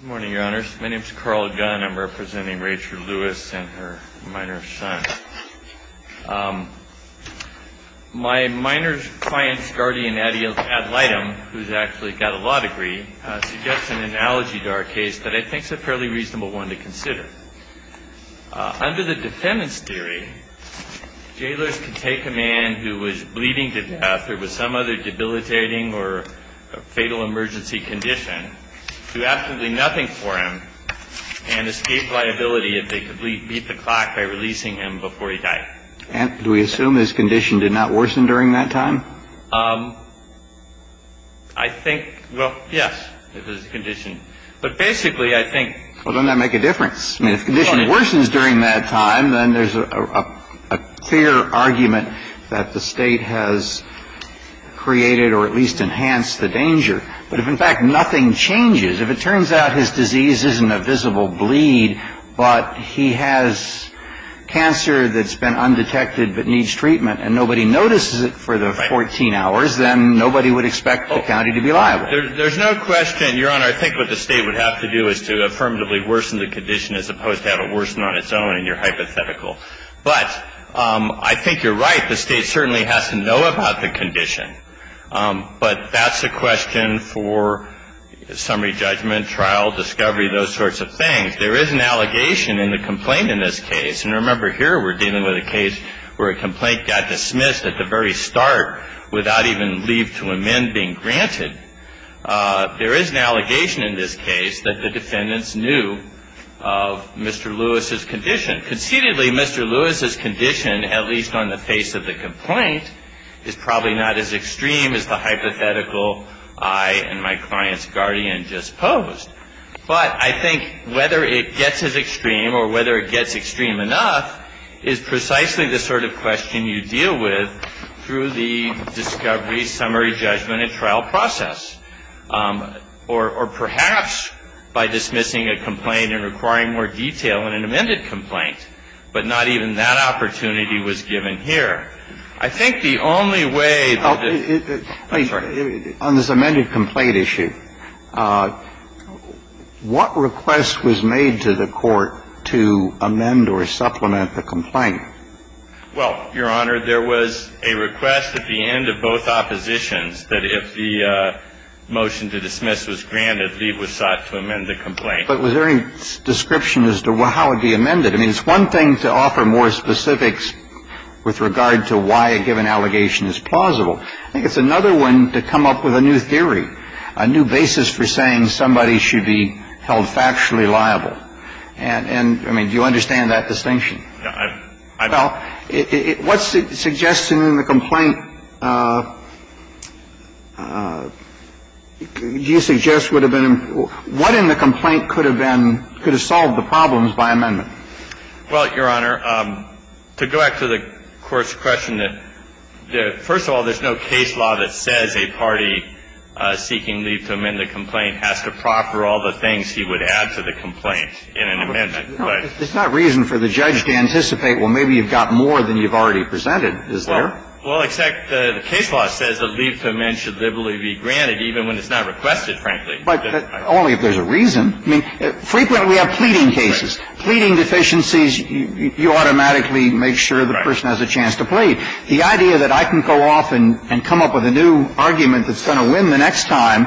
Good morning, Your Honors. My name is Carl Gunn. I'm representing Rachel Lewis and her minor son. My minor client's guardian, Adelightim, who's actually got a law degree, suggests an analogy to our case that I think is a fairly reasonable one to consider. Under the defendant's theory, jailers can take a man who was bleeding to death or with some other debilitating or fatal emergency condition and do absolutely nothing for him and escape liability if they could beat the clock by releasing him before he died. And do we assume his condition did not worsen during that time? I think, well, yes, it was his condition. But basically, I think Well, doesn't that make a difference? I mean, if the condition worsens during that time, then there's a clear argument that the State has created or at least enhanced the danger. But if, in fact, nothing changes, if it turns out his disease isn't a visible bleed, but he has cancer that's been undetected but needs treatment and nobody notices it for the 14 hours, then nobody would expect the county to be liable. There's no question, Your Honor, I think what the State would have to do is to affirmatively worsen the condition as opposed to have it worsen on its own, and you're hypothetical. But I think you're right. The State certainly has to know about the condition. But that's a question for summary judgment, trial, discovery, those sorts of things. There is an allegation in the complaint in this case. And remember, here we're dealing with a case where a complaint got dismissed at the very start without even leave to amend being granted. There is an allegation in this case that the defendants knew of Mr. Lewis's condition. Conceitedly, Mr. Lewis's condition, at least on the face of the complaint, is probably not as extreme as the hypothetical I and my client's guardian just posed. But I think whether it gets as extreme or whether it gets extreme enough is precisely the sort of question you deal with through the discovery, summary judgment, and trial process. Or perhaps by dismissing a complaint and requiring more detail in an amended complaint, but not even that opportunity was given here. I think the only way that the ---- I'm sorry. On this amended complaint issue, what request was made to the Court to amend or supplement the complaint? Well, Your Honor, there was a request at the end of both oppositions that if the motion to dismiss was granted, leave was sought to amend the complaint. But was there any description as to how it would be amended? I don't think there was any description as to how it would be amended. I mean, it's one thing to offer more specifics with regard to why a given allegation is plausible. I think it's another one to come up with a new theory, a new basis for saying somebody should be held factually liable. And, I mean, do you understand that distinction? I don't. Well, what's suggested in the complaint? Do you suggest would have been ---- what in the complaint could have been ---- could have solved the problems by amendment? Well, Your Honor, to go back to the Court's question that, first of all, there's no case law that says a party seeking leave to amend the complaint has to proffer all the things he would add to the complaint in an amendment. It's not reason for the judge to anticipate, well, maybe you've got more than you've already presented, is there? Well, except the case law says that leave to amend should liberally be granted even when it's not requested, frankly. But only if there's a reason. I mean, frequently we have pleading cases. Pleading deficiencies, you automatically make sure the person has a chance to plead. The idea that I can go off and come up with a new argument that's going to win the next time,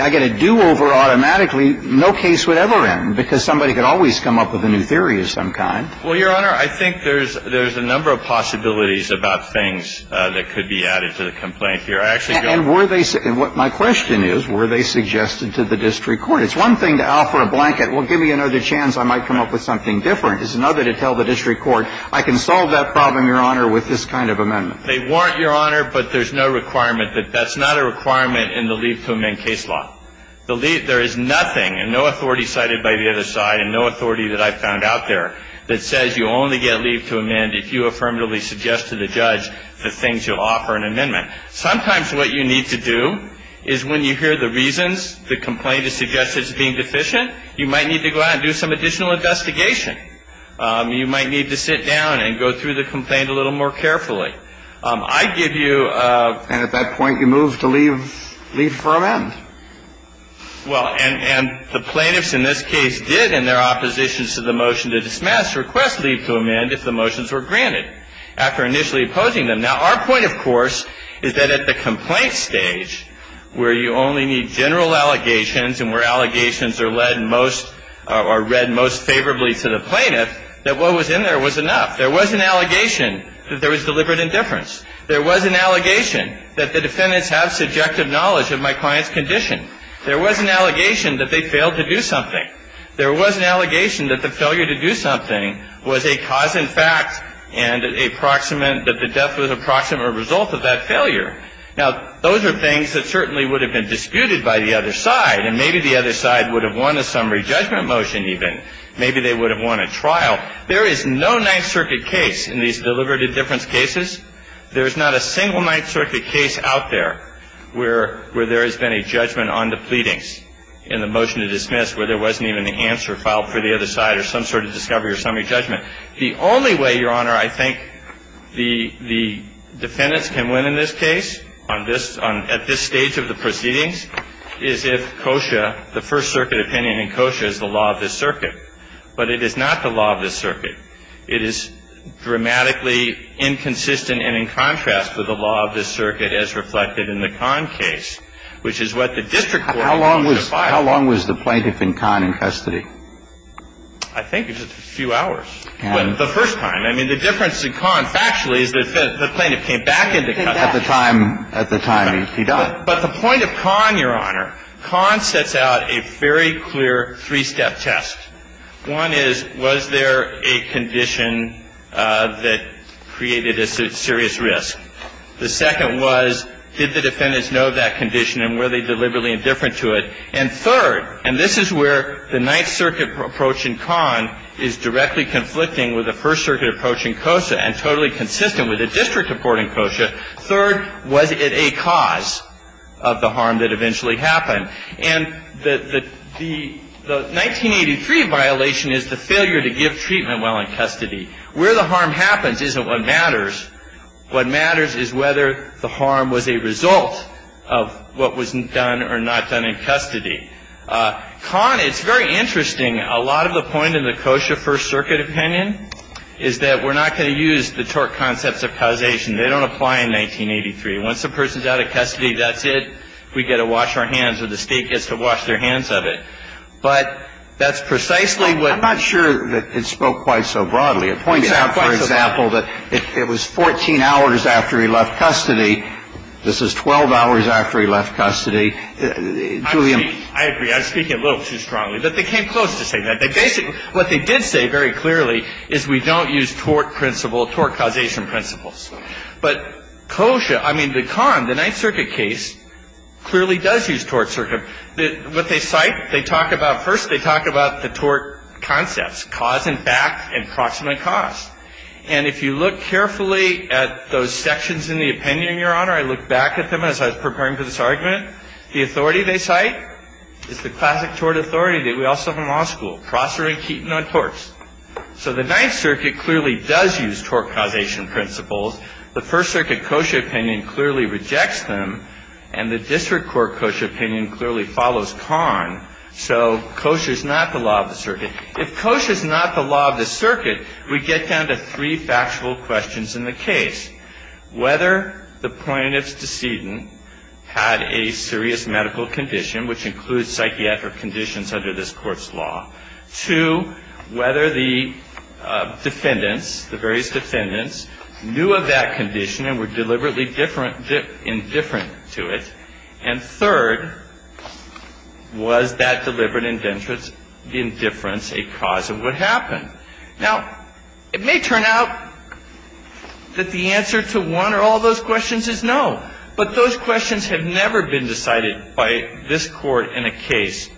I get a do-over automatically, no case would ever end because somebody could always come up with a new theory of some kind. Well, Your Honor, I think there's ---- there's a number of possibilities about things that could be added to the complaint here. I actually don't ---- And were they ---- and what my question is, were they suggested to the district court? It's one thing to offer a blanket, well, give me another chance, I might come up with something different. It's another to tell the district court, I can solve that problem, Your Honor, with this kind of amendment. They weren't, Your Honor, but there's no requirement. That's not a requirement in the leave to amend case law. The leave, there is nothing and no authority cited by the other side and no authority that I've found out there that says you only get leave to amend if you affirmatively suggest to the judge the things you'll offer in amendment. Sometimes what you need to do is when you hear the reasons, the complaint is suggested as being deficient, you might need to go out and do some additional investigation. You might need to sit down and go through the complaint a little more carefully. I give you a ---- And at that point you move to leave for amend. Well, and the plaintiffs in this case did in their opposition to the motion to dismiss request leave to amend if the motions were granted after initially opposing them. Now, our point, of course, is that at the complaint stage where you only need general allegations and where allegations are led most or read most favorably to the plaintiff, that what was in there was enough. There was an allegation that there was deliberate indifference. There was an allegation that the defendants have subjective knowledge of my client's condition. There was an allegation that they failed to do something. There was an allegation that the failure to do something was a cause in fact and a proximate, that the death was a proximate result of that failure. Now, those are things that certainly would have been disputed by the other side, and maybe the other side would have won a summary judgment motion even. Maybe they would have won a trial. Now, there is no Ninth Circuit case in these deliberate indifference cases. There is not a single Ninth Circuit case out there where there has been a judgment on the pleadings in the motion to dismiss where there wasn't even an answer filed for the other side or some sort of discovery or summary judgment. The only way, Your Honor, I think the defendants can win in this case on this at this stage of the proceedings is if COSHA, the First Circuit opinion in COSHA is the law of this circuit. But it is not the law of this circuit. It is dramatically inconsistent and in contrast to the law of this circuit as reflected in the Kahn case, which is what the district court wanted to file. How long was the plaintiff in Kahn in custody? I think it was a few hours. The first time. I mean, the difference in Kahn factually is that the plaintiff came back into custody. At the time he died. But the point of Kahn, Your Honor, Kahn sets out a very clear three-step test. One is, was there a condition that created a serious risk? The second was, did the defendants know that condition and were they deliberately indifferent to it? And third, and this is where the Ninth Circuit approach in Kahn is directly conflicting with the First Circuit approach in COSHA and totally consistent with the district report in COSHA, third, was it a cause of the harm that eventually happened? And the 1983 violation is the failure to give treatment while in custody. Where the harm happens isn't what matters. What matters is whether the harm was a result of what was done or not done in custody. Kahn, it's very interesting, a lot of the point in the COSHA First Circuit opinion is that we're not going to use the tort concepts of causation. They don't apply in 1983. Once a person is out of custody, that's it. We get to wash our hands or the State gets to wash their hands of it. But that's precisely what — I'm not sure that it spoke quite so broadly. It points out, for example, that it was 14 hours after he left custody. This is 12 hours after he left custody. I agree. I agree. I was speaking a little too strongly. But they came close to saying that. What they did say very clearly is we don't use tort principle, tort causation principles. But COSHA — I mean, the Kahn, the Ninth Circuit case, clearly does use tort circuit. What they cite, they talk about — first they talk about the tort concepts, cause and back and proximate cause. And if you look carefully at those sections in the opinion, Your Honor, I look back at them as I was preparing for this argument, the authority they cite is the classic tort authority that we all saw from law school, Prosser and Keaton on torts. So the Ninth Circuit clearly does use tort causation principles. The First Circuit COSHA opinion clearly rejects them. And the District Court COSHA opinion clearly follows Kahn. So COSHA is not the law of the circuit. If COSHA is not the law of the circuit, we get down to three factual questions in the case. Whether the plaintiff's decedent had a serious medical condition, which includes psychiatric conditions under this Court's law. Two, whether the defendants, the various defendants, knew of that condition and were deliberately indifferent to it. And third, was that deliberate indifference a cause of what happened? Now, it may turn out that the answer to one or all those questions is no. But those questions have never been decided by this Court in a case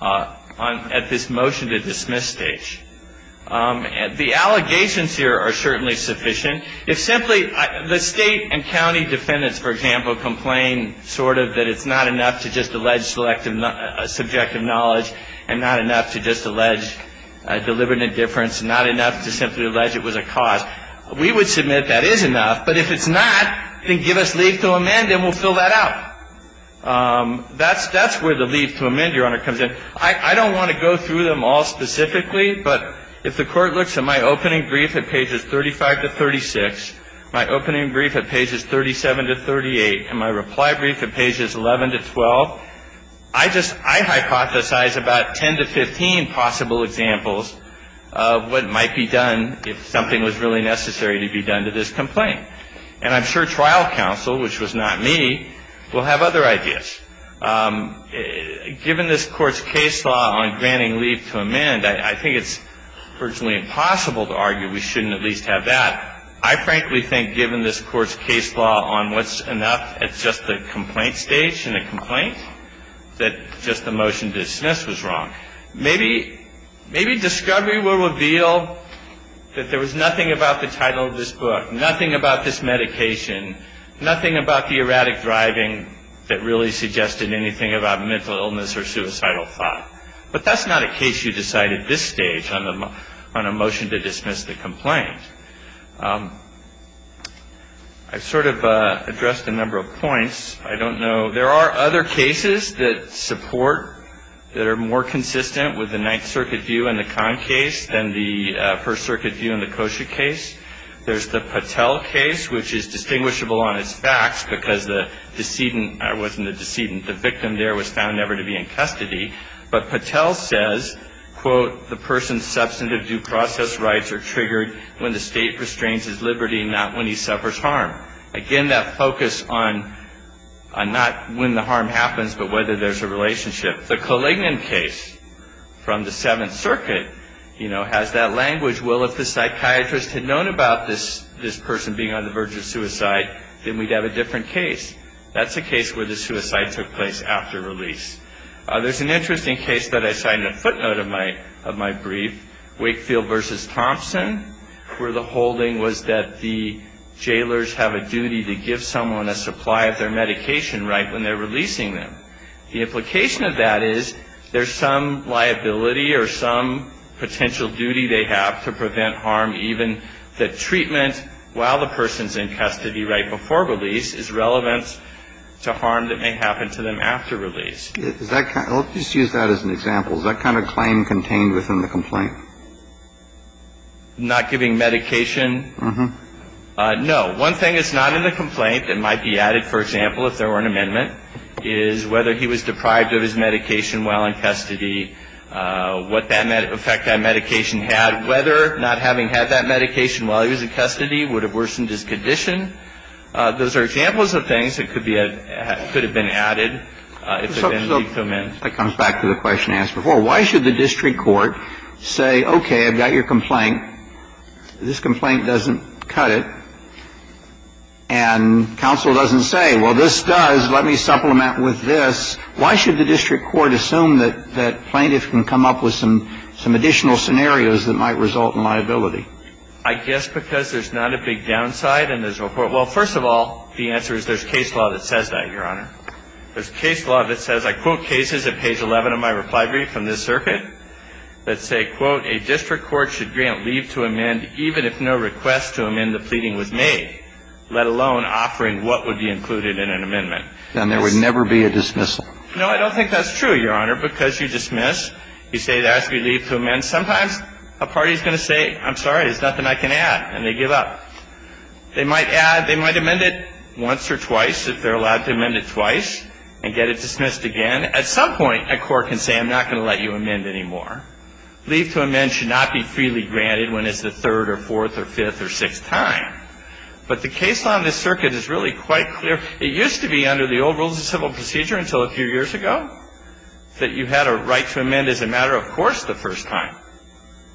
at this motion-to-dismiss stage. The allegations here are certainly sufficient. If simply the State and county defendants, for example, complain sort of that it's not enough to just allege subjective knowledge and not enough to just allege deliberate indifference, not enough to simply allege it was a cause, we would submit that is enough. But if it's not, then give us leave to amend and we'll fill that out. That's where the leave to amend, Your Honor, comes in. I don't want to go through them all specifically, but if the Court looks at my opening brief at pages 35 to 36, my opening brief at pages 37 to 38, and my reply brief at pages 11 to 12, I just – I hypothesize about 10 to 15 possible examples of what might be done if something was really necessary to be done to this complaint. And I'm sure trial counsel, which was not me, will have other ideas. Given this Court's case law on granting leave to amend, I think it's virtually impossible to argue we shouldn't at least have that. I frankly think given this Court's case law on what's enough at just the complaint stage in a complaint, that just the motion to dismiss was wrong. Maybe – maybe discovery will reveal that there was nothing about the title of this book, nothing about this medication, nothing about the erratic driving that really suggested anything about mental illness or suicidal thought. But that's not a case you decide at this stage on a motion to dismiss the complaint. I've sort of addressed a number of points. I don't know – there are other cases that support, that are more consistent with the Ninth Circuit view in the Kahn case than the First Circuit view in the Kosher case. There's the Patel case, which is distinguishable on its facts because the decedent – it wasn't the decedent, the victim there was found never to be in custody. But Patel says, quote, the person's substantive due process rights are triggered when the state restrains his liberty, not when he suffers harm. Again, that focus on not when the harm happens, but whether there's a relationship. The Kalingan case from the Seventh Circuit, you know, has that language, well, if the psychiatrist had known about this person being on the verge of suicide, then we'd have a different case. That's a case where the suicide took place after release. There's an interesting case that I cite in the footnote of my brief, Wakefield v. Thompson, where the holding was that the jailers have a duty to give someone a supply of their medication right when they're releasing them. The implication of that is there's some liability or some potential duty they have to prevent harm, even that treatment while the person's in custody right before release is relevant to harm that may happen to them after release. Let's just use that as an example. Is that kind of claim contained within the complaint? Not giving medication? Uh-huh. No. One thing that's not in the complaint that might be added, for example, if there were an amendment, is whether he was deprived of his medication while in custody, what effect that medication had, whether not having had that medication while he was in custody would have worsened his condition. Those are examples of things that could have been added. That comes back to the question asked before. Why should the district court say, okay, I've got your complaint. This complaint doesn't cut it. And counsel doesn't say, well, this does. Let me supplement with this. Why should the district court assume that plaintiffs can come up with some additional scenarios that might result in liability? I guess because there's not a big downside in this report. Well, first of all, the answer is there's case law that says that, Your Honor. There's case law that says, I quote cases at page 11 of my reply brief from this circuit that say, quote, a district court should grant leave to amend even if no request to amend the pleading was made, let alone offering what would be included in an amendment. Then there would never be a dismissal. No, I don't think that's true, Your Honor, because you dismiss. Sometimes a party is going to say, I'm sorry, there's nothing I can add, and they give up. They might amend it once or twice if they're allowed to amend it twice and get it dismissed again. At some point a court can say, I'm not going to let you amend anymore. Leave to amend should not be freely granted when it's the third or fourth or fifth or sixth time. But the case law in this circuit is really quite clear. It used to be, under the old rules of civil procedure until a few years ago, that you had a right to amend as a matter of course the first time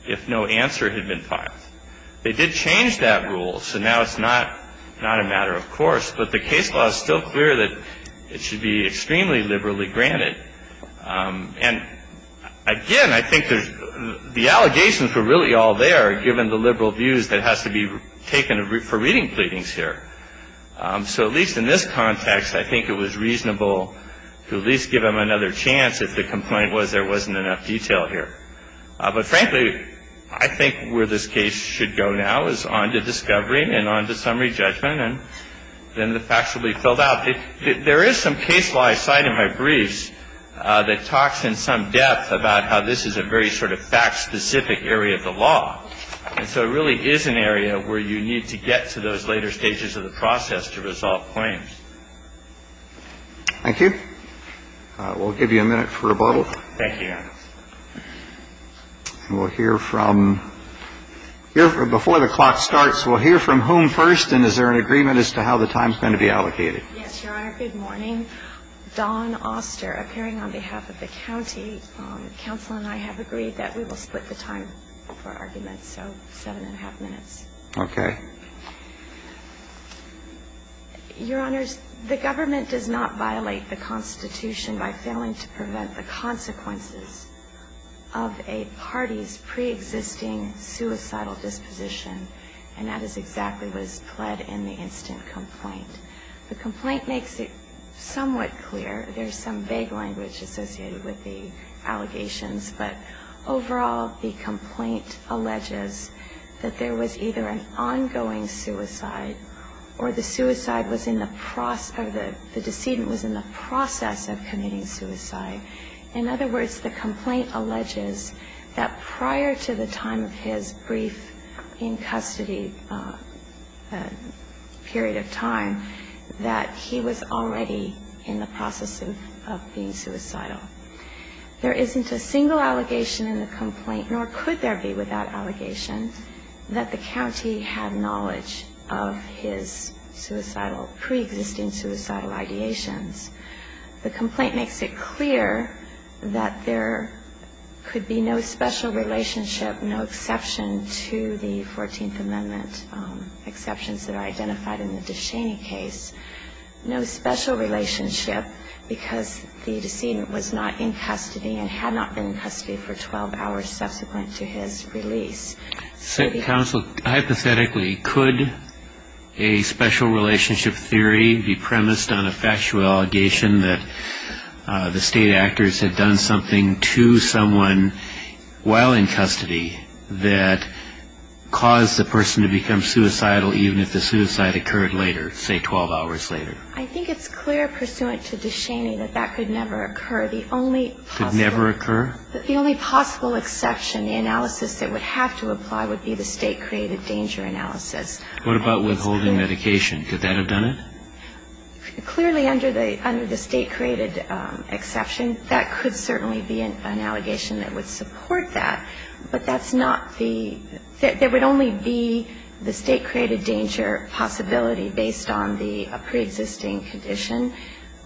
if no answer had been filed. They did change that rule, so now it's not a matter of course. But the case law is still clear that it should be extremely liberally granted. And, again, I think the allegations were really all there, given the liberal views that has to be taken for reading pleadings here. So at least in this context, I think it was reasonable to at least give them another chance if the complaint was there wasn't enough detail here. But, frankly, I think where this case should go now is on to discovery and on to summary judgment, and then the facts will be filled out. There is some case law I cite in my briefs that talks in some depth about how this is a very sort of fact-specific area of the law. And so it really is an area where you need to get to those later stages of the process to resolve claims. Thank you. We'll give you a minute for rebuttal. Thank you, Your Honor. And we'll hear from, before the clock starts, we'll hear from whom first, and is there an agreement as to how the time is going to be allocated? Yes, Your Honor. Good morning. Dawn Oster, appearing on behalf of the county. Counsel and I have agreed that we will split the time for arguments, so seven and a half minutes. Okay. Your Honors, the government does not violate the Constitution by failing to prevent the consequences of a party's preexisting suicidal disposition, and that is exactly what is pled in the instant complaint. The complaint makes it somewhat clear. There's some vague language associated with the allegations. But overall, the complaint alleges that there was either an ongoing suicide or the suicide was in the process, or the decedent was in the process of committing suicide. In other words, the complaint alleges that prior to the time of his brief in custody period of time, that he was already in the process of being suicidal. There isn't a single allegation in the complaint, nor could there be without allegation, that the county had knowledge of his suicidal, preexisting suicidal ideations. The complaint makes it clear that there could be no special relationship, no exception to the 14th Amendment exceptions that are identified in the DeShaney case, no special relationship because the decedent was not in custody and had not been in custody for 12 hours subsequent to his release. Counsel, hypothetically, could a special relationship theory be premised on a factual allegation that the state actors had done something to someone while in custody that caused the person to become suicidal even if the suicide occurred later, say 12 hours later? I think it's clear pursuant to DeShaney that that could never occur. Could never occur? The only possible exception, the analysis that would have to apply, would be the state-created danger analysis. What about withholding medication? Could that have done it? Clearly, under the state-created exception, that could certainly be an allegation that would support that. But that's not the – there would only be the state-created danger possibility based on the preexisting condition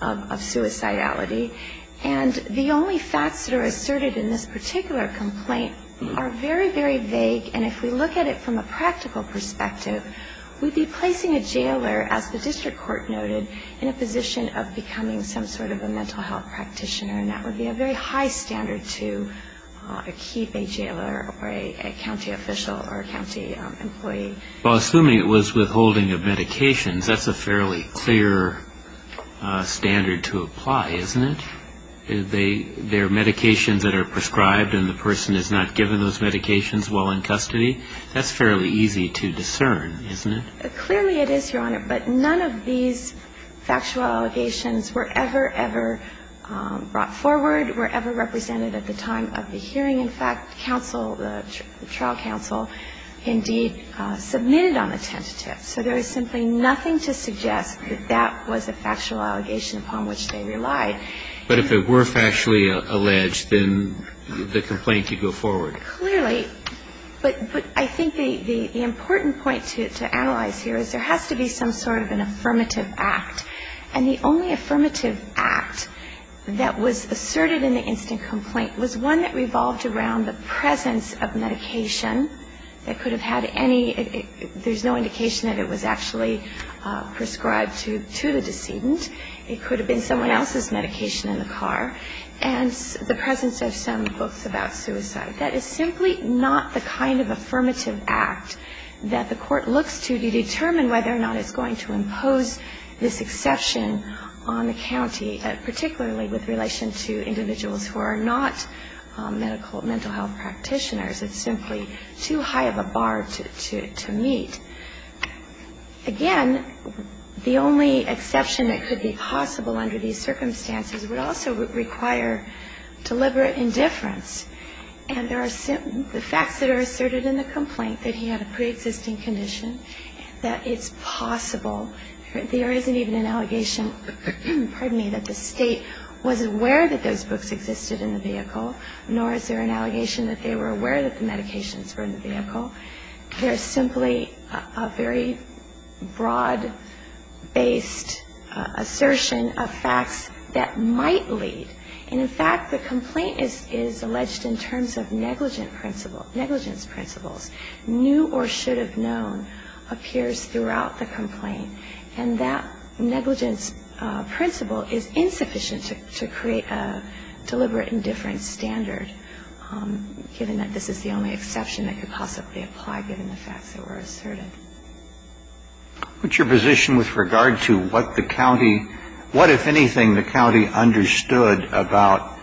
of suicidality. And the only facts that are asserted in this particular complaint are very, very vague. And if we look at it from a practical perspective, we'd be placing a jailer, as the district court noted, in a position of becoming some sort of a mental health practitioner. And that would be a very high standard to keep a jailer or a county official or a county employee. Well, assuming it was withholding of medications, that's a fairly clear standard to apply, isn't it? If there are medications that are prescribed and the person is not given those medications while in custody, that's fairly easy to discern, isn't it? Clearly it is, Your Honor. But none of these factual allegations were ever, ever brought forward, were ever represented at the time of the hearing. In fact, counsel, the trial counsel, indeed submitted on the tentative. So there is simply nothing to suggest that that was a factual allegation upon which they relied. But if it were factually alleged, then the complaint could go forward. Clearly. But I think the important point to analyze here is there has to be some sort of an affirmative act. And the only affirmative act that was asserted in the instant complaint was one that revolved around the presence of medication that could have had any – there's no indication that it was actually prescribed to the decedent. It could have been someone else's medication in the car. And the presence of some books about suicide. That is simply not the kind of affirmative act that the Court looks to determine whether or not it's going to impose this exception on the county, particularly with relation to individuals who are not medical – mental health practitioners. It's simply too high of a bar to meet. Again, the only exception that could be possible under these circumstances would also require deliberate indifference. And there are – the facts that are asserted in the complaint, that he had a preexisting condition, that it's possible – there isn't even an allegation, pardon me, that the State was aware that those books existed in the vehicle, nor is there an allegation that they were aware that the medications were in the vehicle. There's simply a very broad-based assertion of facts that might lead. And, in fact, the complaint is alleged in terms of negligence principles. New or should have known appears throughout the complaint. And that negligence principle is insufficient to create a deliberate indifference standard, given that this is the only exception that could possibly apply given the facts that were asserted. What's your position with regard to what the county – what, if anything, the county understood about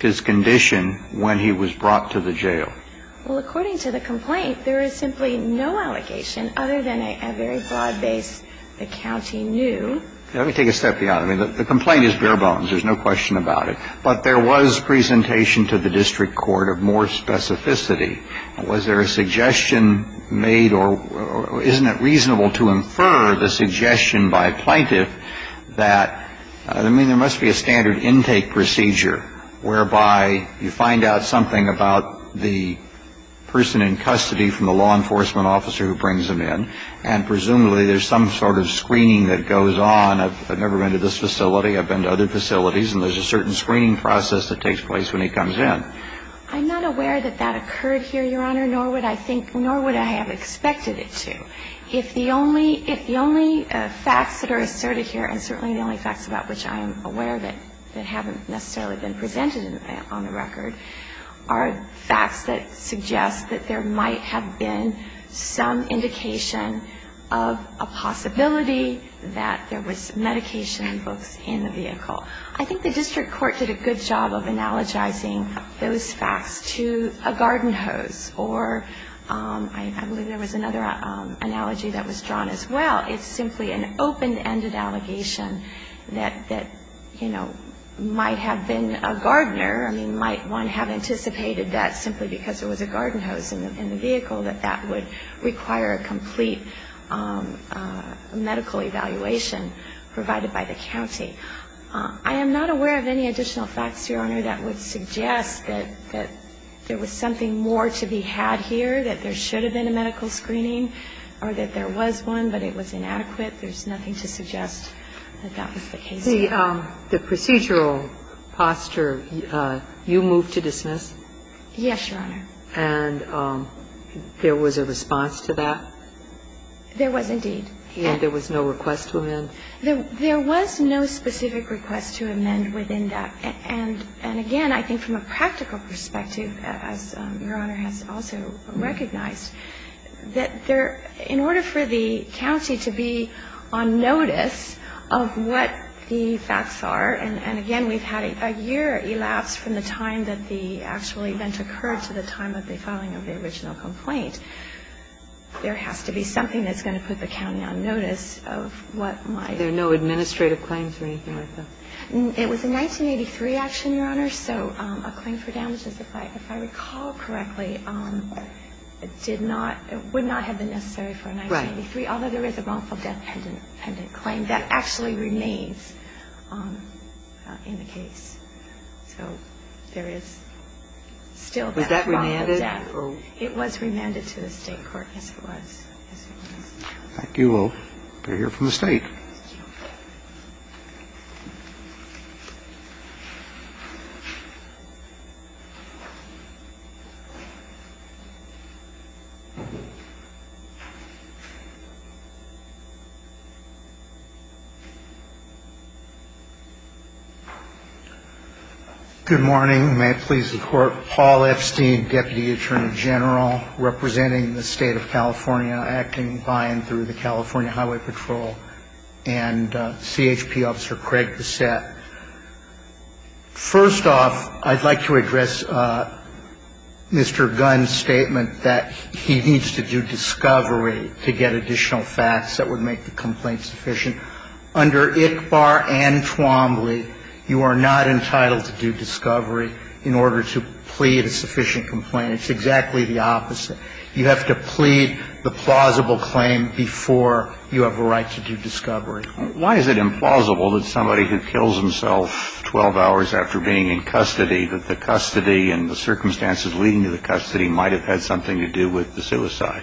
his condition when he was brought to the jail? Well, according to the complaint, there is simply no allegation other than a very broad-based the county knew. Let me take a step beyond. I mean, the complaint is bare bones. There's no question about it. But there was presentation to the district court of more specificity. Was there a suggestion made or isn't it reasonable to infer the suggestion by a plaintiff that, I mean, there must be a standard intake procedure whereby you find out something about the person in custody from the law enforcement officer who brings them in, and presumably there's some sort of screening that goes on. I've never been to this facility. I've been to other facilities, and there's a certain screening process that takes place when he comes in. I'm not aware that that occurred here, Your Honor, nor would I think – nor would I have expected it to. If the only – if the only facts that are asserted here, and certainly the only facts about which I am aware of it that haven't necessarily been presented on the record, are facts that suggest that there might have been some indication of a possibility that there was medication in the vehicle. I think the district court did a good job of analogizing those facts to a garden hose, or I believe there was another analogy that was drawn as well. It's simply an open-ended allegation that, you know, might have been a gardener. I mean, might one have anticipated that simply because there was a garden hose in the vehicle, that that would require a complete medical evaluation provided by the county. I am not aware of any additional facts, Your Honor, that would suggest that there was something more to be had here, that there should have been a medical screening or that there was one, but it was inadequate. There's nothing to suggest that that was the case. The procedural posture, you move to dismiss? Yes, Your Honor. And there was a response to that? There was, indeed. And there was no request to amend? There was no specific request to amend within that. And, again, I think from a practical perspective, as Your Honor has also recognized, that in order for the county to be on notice of what the facts are, and, again, we've had a year elapse from the time that the actual event occurred to the time of the filing of the original complaint, there has to be something that's going to put the county on notice of what might There are no administrative claims or anything like that? It was a 1983 action, Your Honor, so a claim for damages, if I recall correctly, did not – would not have been necessary for a 1983. Right. Although there is a wrongful death pendant claim, that actually remains in the case. So there is still that wrongful death. Was that remanded? It was remanded to the State court, yes, it was. Thank you. We'll hear from the State. Good morning. May it please the Court. Paul Epstein, Deputy Attorney General, representing the State of California, acting by and through the California Highway Patrol, and CHP Officer Craig Bassett. First off, I'd like to address Mr. Gunn's statement that he needs to do discovery to get additional facts that would make the complaint sufficient. Under ICBAR and Twombly, you are not entitled to do discovery in order to plead a sufficient complaint. It's exactly the opposite. You have to plead the plausible claim before you have a right to do discovery. Why is it implausible that somebody who kills himself 12 hours after being in custody, that the custody and the circumstances leading to the custody might have had something to do with the suicide?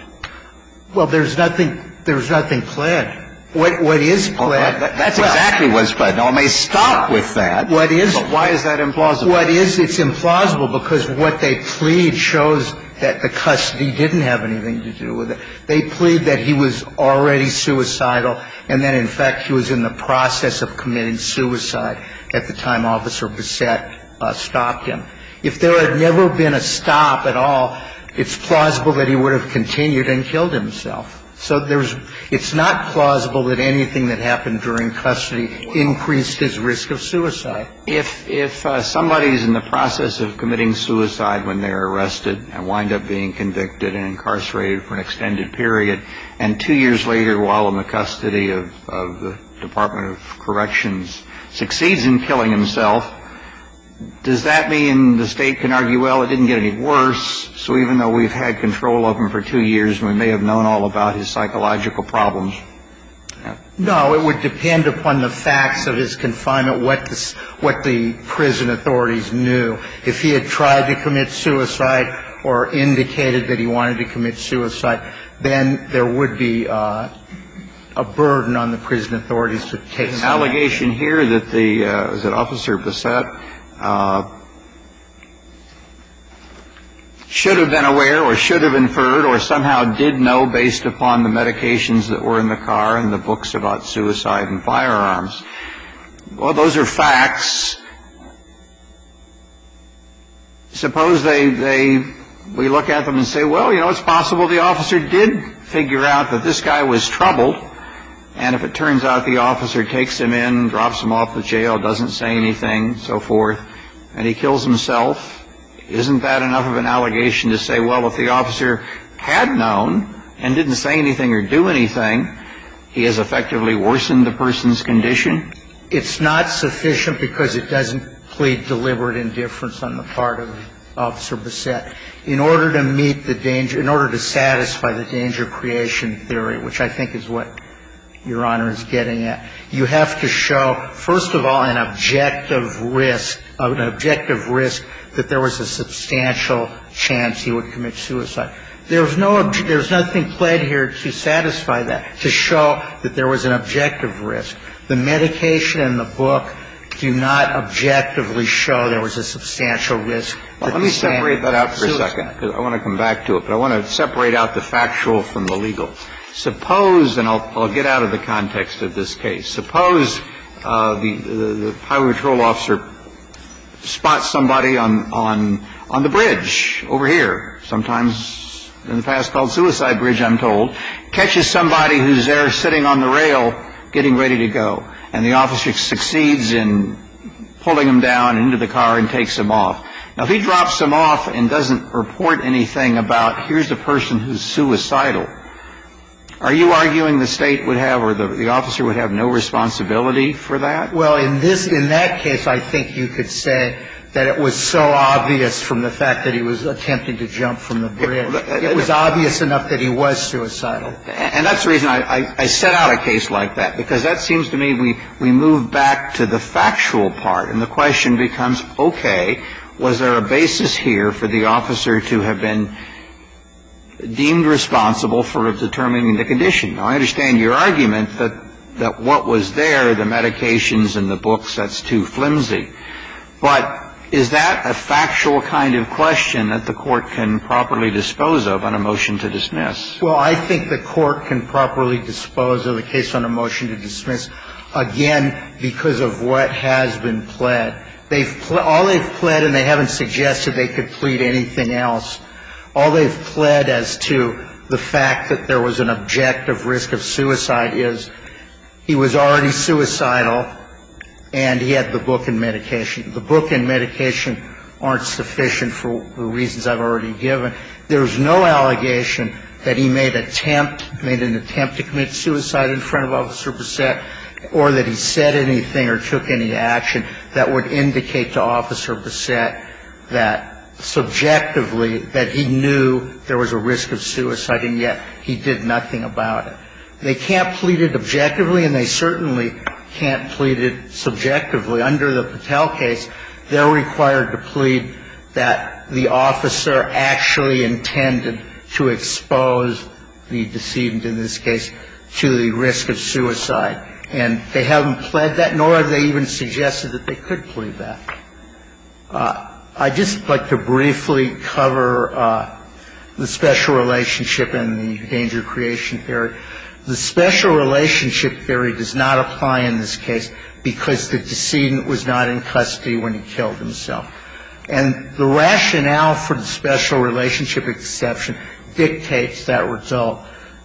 Well, there's nothing planned. What is planned? That's exactly what's planned. Now, I may stop with that. What is? But why is that implausible? What is? It's implausible because what they plead shows that the custody didn't have anything to do with it. They plead that he was already suicidal and that, in fact, he was in the process of committing suicide at the time Officer Bassett stopped him. If there had never been a stop at all, it's plausible that he would have continued and killed himself. So it's not plausible that anything that happened during custody increased his risk of suicide. If somebody is in the process of committing suicide when they're arrested and wind up being convicted and incarcerated for an extended period, and two years later, while in the custody of the Department of Corrections, succeeds in killing himself, does that mean the state can argue, well, it didn't get any worse, so even though we've had control of him for two years, we may have known all about his psychological problems? No. It would depend upon the facts of his confinement, what the prison authorities knew. If he had tried to commit suicide or indicated that he wanted to commit suicide, then there would be a burden on the prison authorities to take some action. The allegation here that the Officer Bassett should have been aware or should have inferred or somehow did know based upon the medications that were in the car and the books about suicide and firearms. Well, those are facts. Suppose we look at them and say, well, you know, it's possible the officer did figure out that this guy was troubled. And if it turns out the officer takes him in, drops him off at jail, doesn't say anything, so forth, and he kills himself, isn't that enough of an allegation to say, well, if the officer had known and didn't say anything or do anything, he has effectively worsened the person's condition? It's not sufficient because it doesn't plead deliberate indifference on the part of Officer Bassett. In order to meet the danger, in order to satisfy the danger creation theory, which I think is what Your Honor is getting at, you have to show, first of all, an objective risk, an objective risk that there was a substantial chance he would commit suicide. There's nothing pled here to satisfy that, to show that there was an objective risk. The medication and the book do not objectively show there was a substantial risk. Now, let me separate that out for a second because I want to come back to it, but I want to separate out the factual from the legal. Suppose, and I'll get out of the context of this case, suppose the highway patrol officer spots somebody on the bridge over here, sometimes in the past called Suicide Bridge, I'm told, catches somebody who's there sitting on the rail getting ready to go, and the officer succeeds in pulling him down into the car and takes him off. Now, if he drops him off and doesn't report anything about, here's a person who's suicidal, are you arguing the State would have or the officer would have no responsibility for that? Well, in that case, I think you could say that it was so obvious from the fact that he was attempting to jump from the bridge. It was obvious enough that he was suicidal. And that's the reason I set out a case like that, because that seems to me we move back to the factual part, and the question becomes, okay, was there a basis here for the officer to have been deemed responsible for determining the condition? Now, I understand your argument that what was there, the medications and the books, that's too flimsy. But is that a factual kind of question that the Court can properly dispose of on a motion to dismiss? Well, I think the Court can properly dispose of a case on a motion to dismiss, again, because of what has been pled. All they've pled, and they haven't suggested they could plead anything else, all they've pled as to the fact that there was an objective risk of suicide is he was already suicidal and he had the book and medication. The book and medication aren't sufficient for the reasons I've already given. There's no allegation that he made an attempt to commit suicide in front of Officer Bousset or that he said anything or took any action that would indicate to Officer Bousset that subjectively that he knew there was a risk of suicide, and yet he did nothing about it. They can't plead it objectively, and they certainly can't plead it subjectively. Under the Patel case, they're required to plead that the officer actually intended to expose the decedent in this case to the risk of suicide. And they haven't pled that, nor have they even suggested that they could plead that. I'd just like to briefly cover the special relationship and the danger of creation theory. The special relationship theory does not apply in this case because the decedent was not in custody when he killed himself. And the rationale for the special relationship exception dictates that result.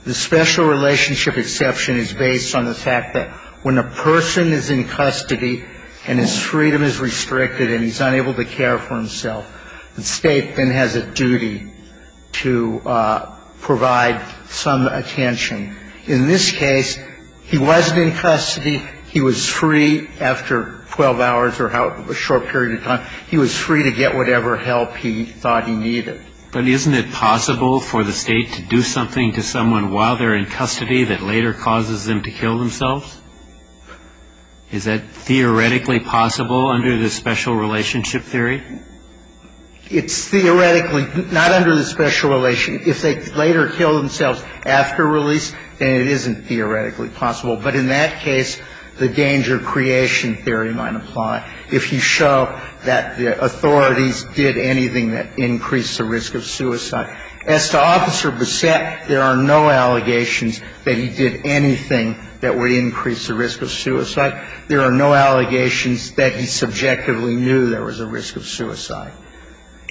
The special relationship exception is based on the fact that when a person is in custody and his freedom is restricted and he's unable to care for himself, the State then has a duty to provide some attention. In this case, he wasn't in custody. He was free after 12 hours or a short period of time. He was free to get whatever help he thought he needed. But isn't it possible for the State to do something to someone while they're in custody that later causes them to kill themselves? Is that theoretically possible under the special relationship theory? It's theoretically not under the special relationship. If they later kill themselves after release, then it isn't theoretically possible. But in that case, the danger of creation theory might apply if you show that the authorities did anything that increased the risk of suicide. As to Officer Bissett, there are no allegations that he did anything that would increase the risk of suicide. There are no allegations that he subjectively knew there was a risk of suicide.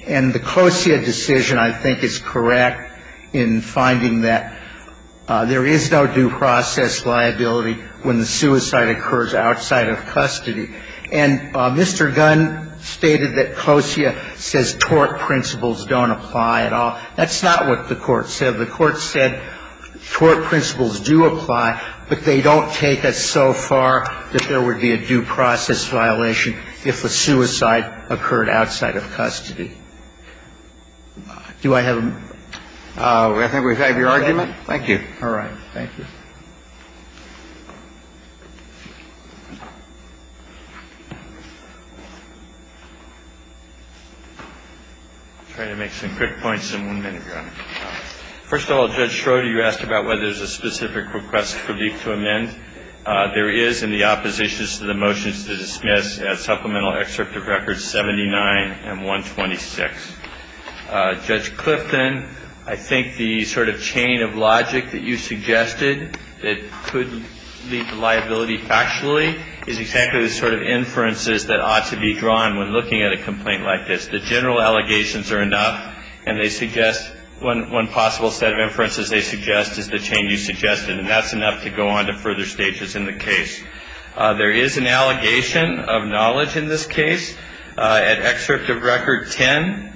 And the Closia decision, I think, is correct in finding that there is no due process liability when the suicide occurs outside of custody. And Mr. Gunn stated that Closia says tort principles don't apply at all. That's not what the Court said. The Court said tort principles do apply, but they don't take it so far that there is no due process liability when the suicide occurred outside of custody. Do I have a motion? I think we have your argument. Thank you. All right. Thank you. I'll try to make some quick points in one minute, Your Honor. First of all, Judge Schroeder, you asked about whether there's a specific request for me to amend. There is in the oppositions to the motions to dismiss at Supplemental Excerpt of Records 79 and 126. Judge Clifton, I think the sort of chain of logic that you suggested that could lead to liability factually is exactly the sort of inferences that ought to be drawn when looking at a complaint like this. The general allegations are enough, and they suggest one possible set of inferences they suggest is the chain you suggested. And that's enough to go on to further stages in the case. There is an allegation of knowledge in this case. At Excerpt of Record 10,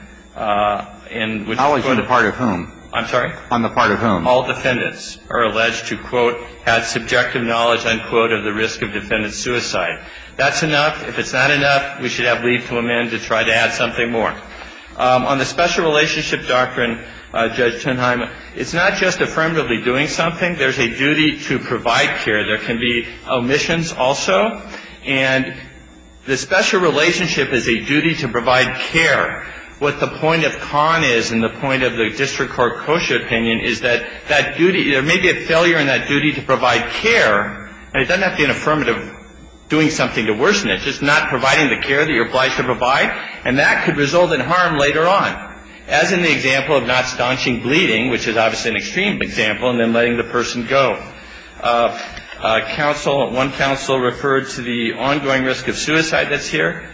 in which case — Knowledge on the part of whom? I'm sorry? On the part of whom? All defendants are alleged to, quote, have subjective knowledge, unquote, of the risk of defendant's suicide. That's enough. If it's not enough, we should have leave to amend to try to add something more. On the Special Relationship Doctrine, Judge Tenheimer, it's not just affirmatively doing something. There's a duty to provide care. There can be omissions also. And the special relationship is a duty to provide care. What the point of Kahn is and the point of the District Court Kosher opinion is that that duty — there may be a failure in that duty to provide care, and it doesn't have to be an affirmative doing something to worsen it, just not providing the care that you're obliged to provide. And that could result in harm later on, as in the example of not staunching bleeding, which is obviously an extreme example, and then letting the person go. Counsel — one counsel referred to the ongoing risk of suicide that's here.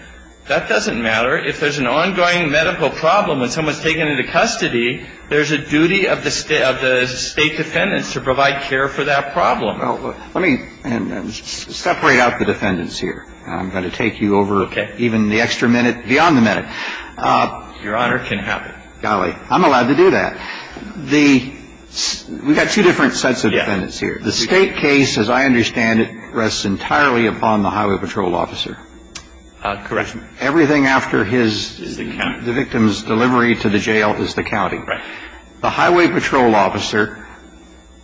That doesn't matter. If there's an ongoing medical problem and someone's taken into custody, there's a duty of the State defendants to provide care for that problem. Well, let me separate out the defendants here. I'm going to take you over even the extra minute beyond the minute. Your Honor can have it. Golly. I'm allowed to do that. The — we've got two different sets of defendants here. The State case, as I understand it, rests entirely upon the highway patrol officer. Correct. Everything after his — Is the county. The victim's delivery to the jail is the county. Right. The highway patrol officer,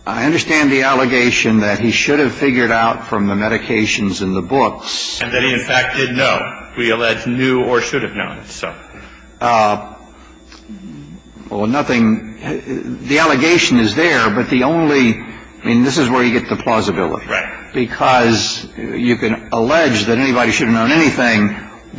I understand the allegation that he should have figured out from the medications in the books. And that he, in fact, did know. We allege knew or should have known, so. Well, nothing — the allegation is there, but the only — I mean, this is where you get the plausibility. Right. Because you can allege that anybody should have known anything.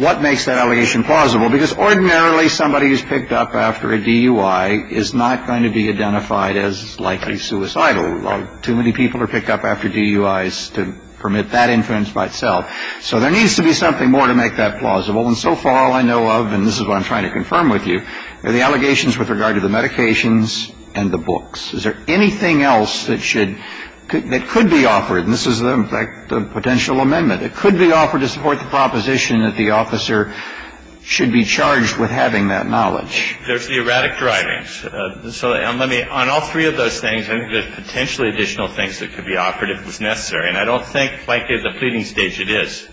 What makes that allegation plausible? Because ordinarily somebody who's picked up after a DUI is not going to be identified as likely suicidal. Too many people are picked up after DUIs to permit that inference by itself. So there needs to be something more to make that plausible. And so far, all I know of, and this is what I'm trying to confirm with you, are the allegations with regard to the medications and the books. Is there anything else that should — that could be offered? And this is, in fact, the potential amendment. It could be offered to support the proposition that the officer should be charged with having that knowledge. There's the erratic drivings. So let me — on all three of those things, I think there's potentially additional things that could be offered if it was necessary. And I don't think, frankly, at the pleading stage it is.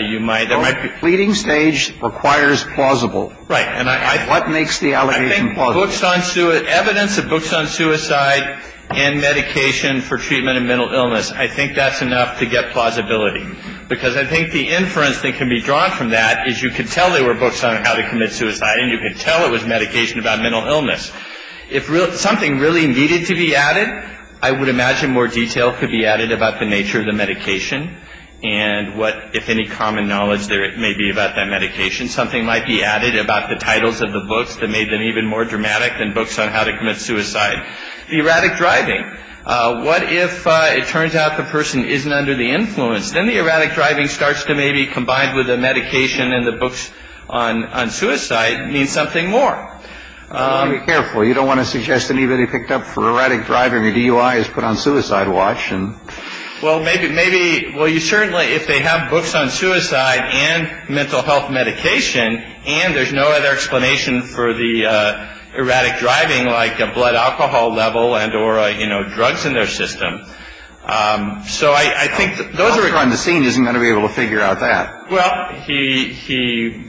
You might — The pleading stage requires plausible. Right. And I — What makes the allegation plausible? I think books on — evidence of books on suicide and medication for treatment of mental illness, I think that's enough to get plausibility. Because I think the inference that can be drawn from that is you could tell they were books on how to commit suicide, and you could tell it was medication about mental illness. If something really needed to be added, I would imagine more detail could be added about the nature of the medication. And what, if any, common knowledge there may be about that medication. Something might be added about the titles of the books that made them even more dramatic than books on how to commit suicide. The erratic driving. What if it turns out the person isn't under the influence? Then the erratic driving starts to maybe, combined with the medication and the books on suicide, mean something more. Be careful. You don't want to suggest anybody picked up for erratic driving or DUI is put on suicide watch. Well, maybe — well, you certainly — if they have books on suicide and mental health medication, and there's no other explanation for the erratic driving like a blood alcohol level and or, you know, drugs in their system. So I think those are — The officer on the scene isn't going to be able to figure out that. Well, he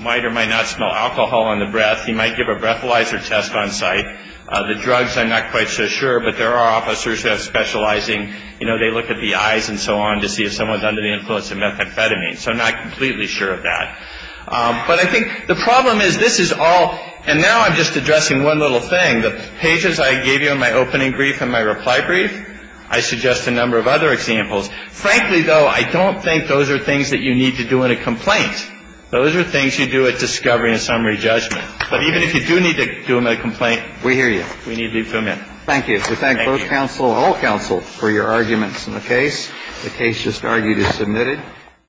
might or might not smell alcohol on the breath. He might give a breathalyzer test on site. The drugs I'm not quite so sure, but there are officers who have specializing — you know, they look at the eyes and so on to see if someone's under the influence of methamphetamine. So I'm not completely sure of that. But I think the problem is this is all — and now I'm just addressing one little thing. The pages I gave you in my opening brief and my reply brief, I suggest a number of other examples. Frankly, though, I don't think those are things that you need to do in a complaint. Those are things you do at discovery and summary judgment. But even if you do need to do them in a complaint. We hear you. We need to do them in. Thank you. Thank you. We thank both counsel, all counsel, for your arguments in the case. The case just argued is submitted.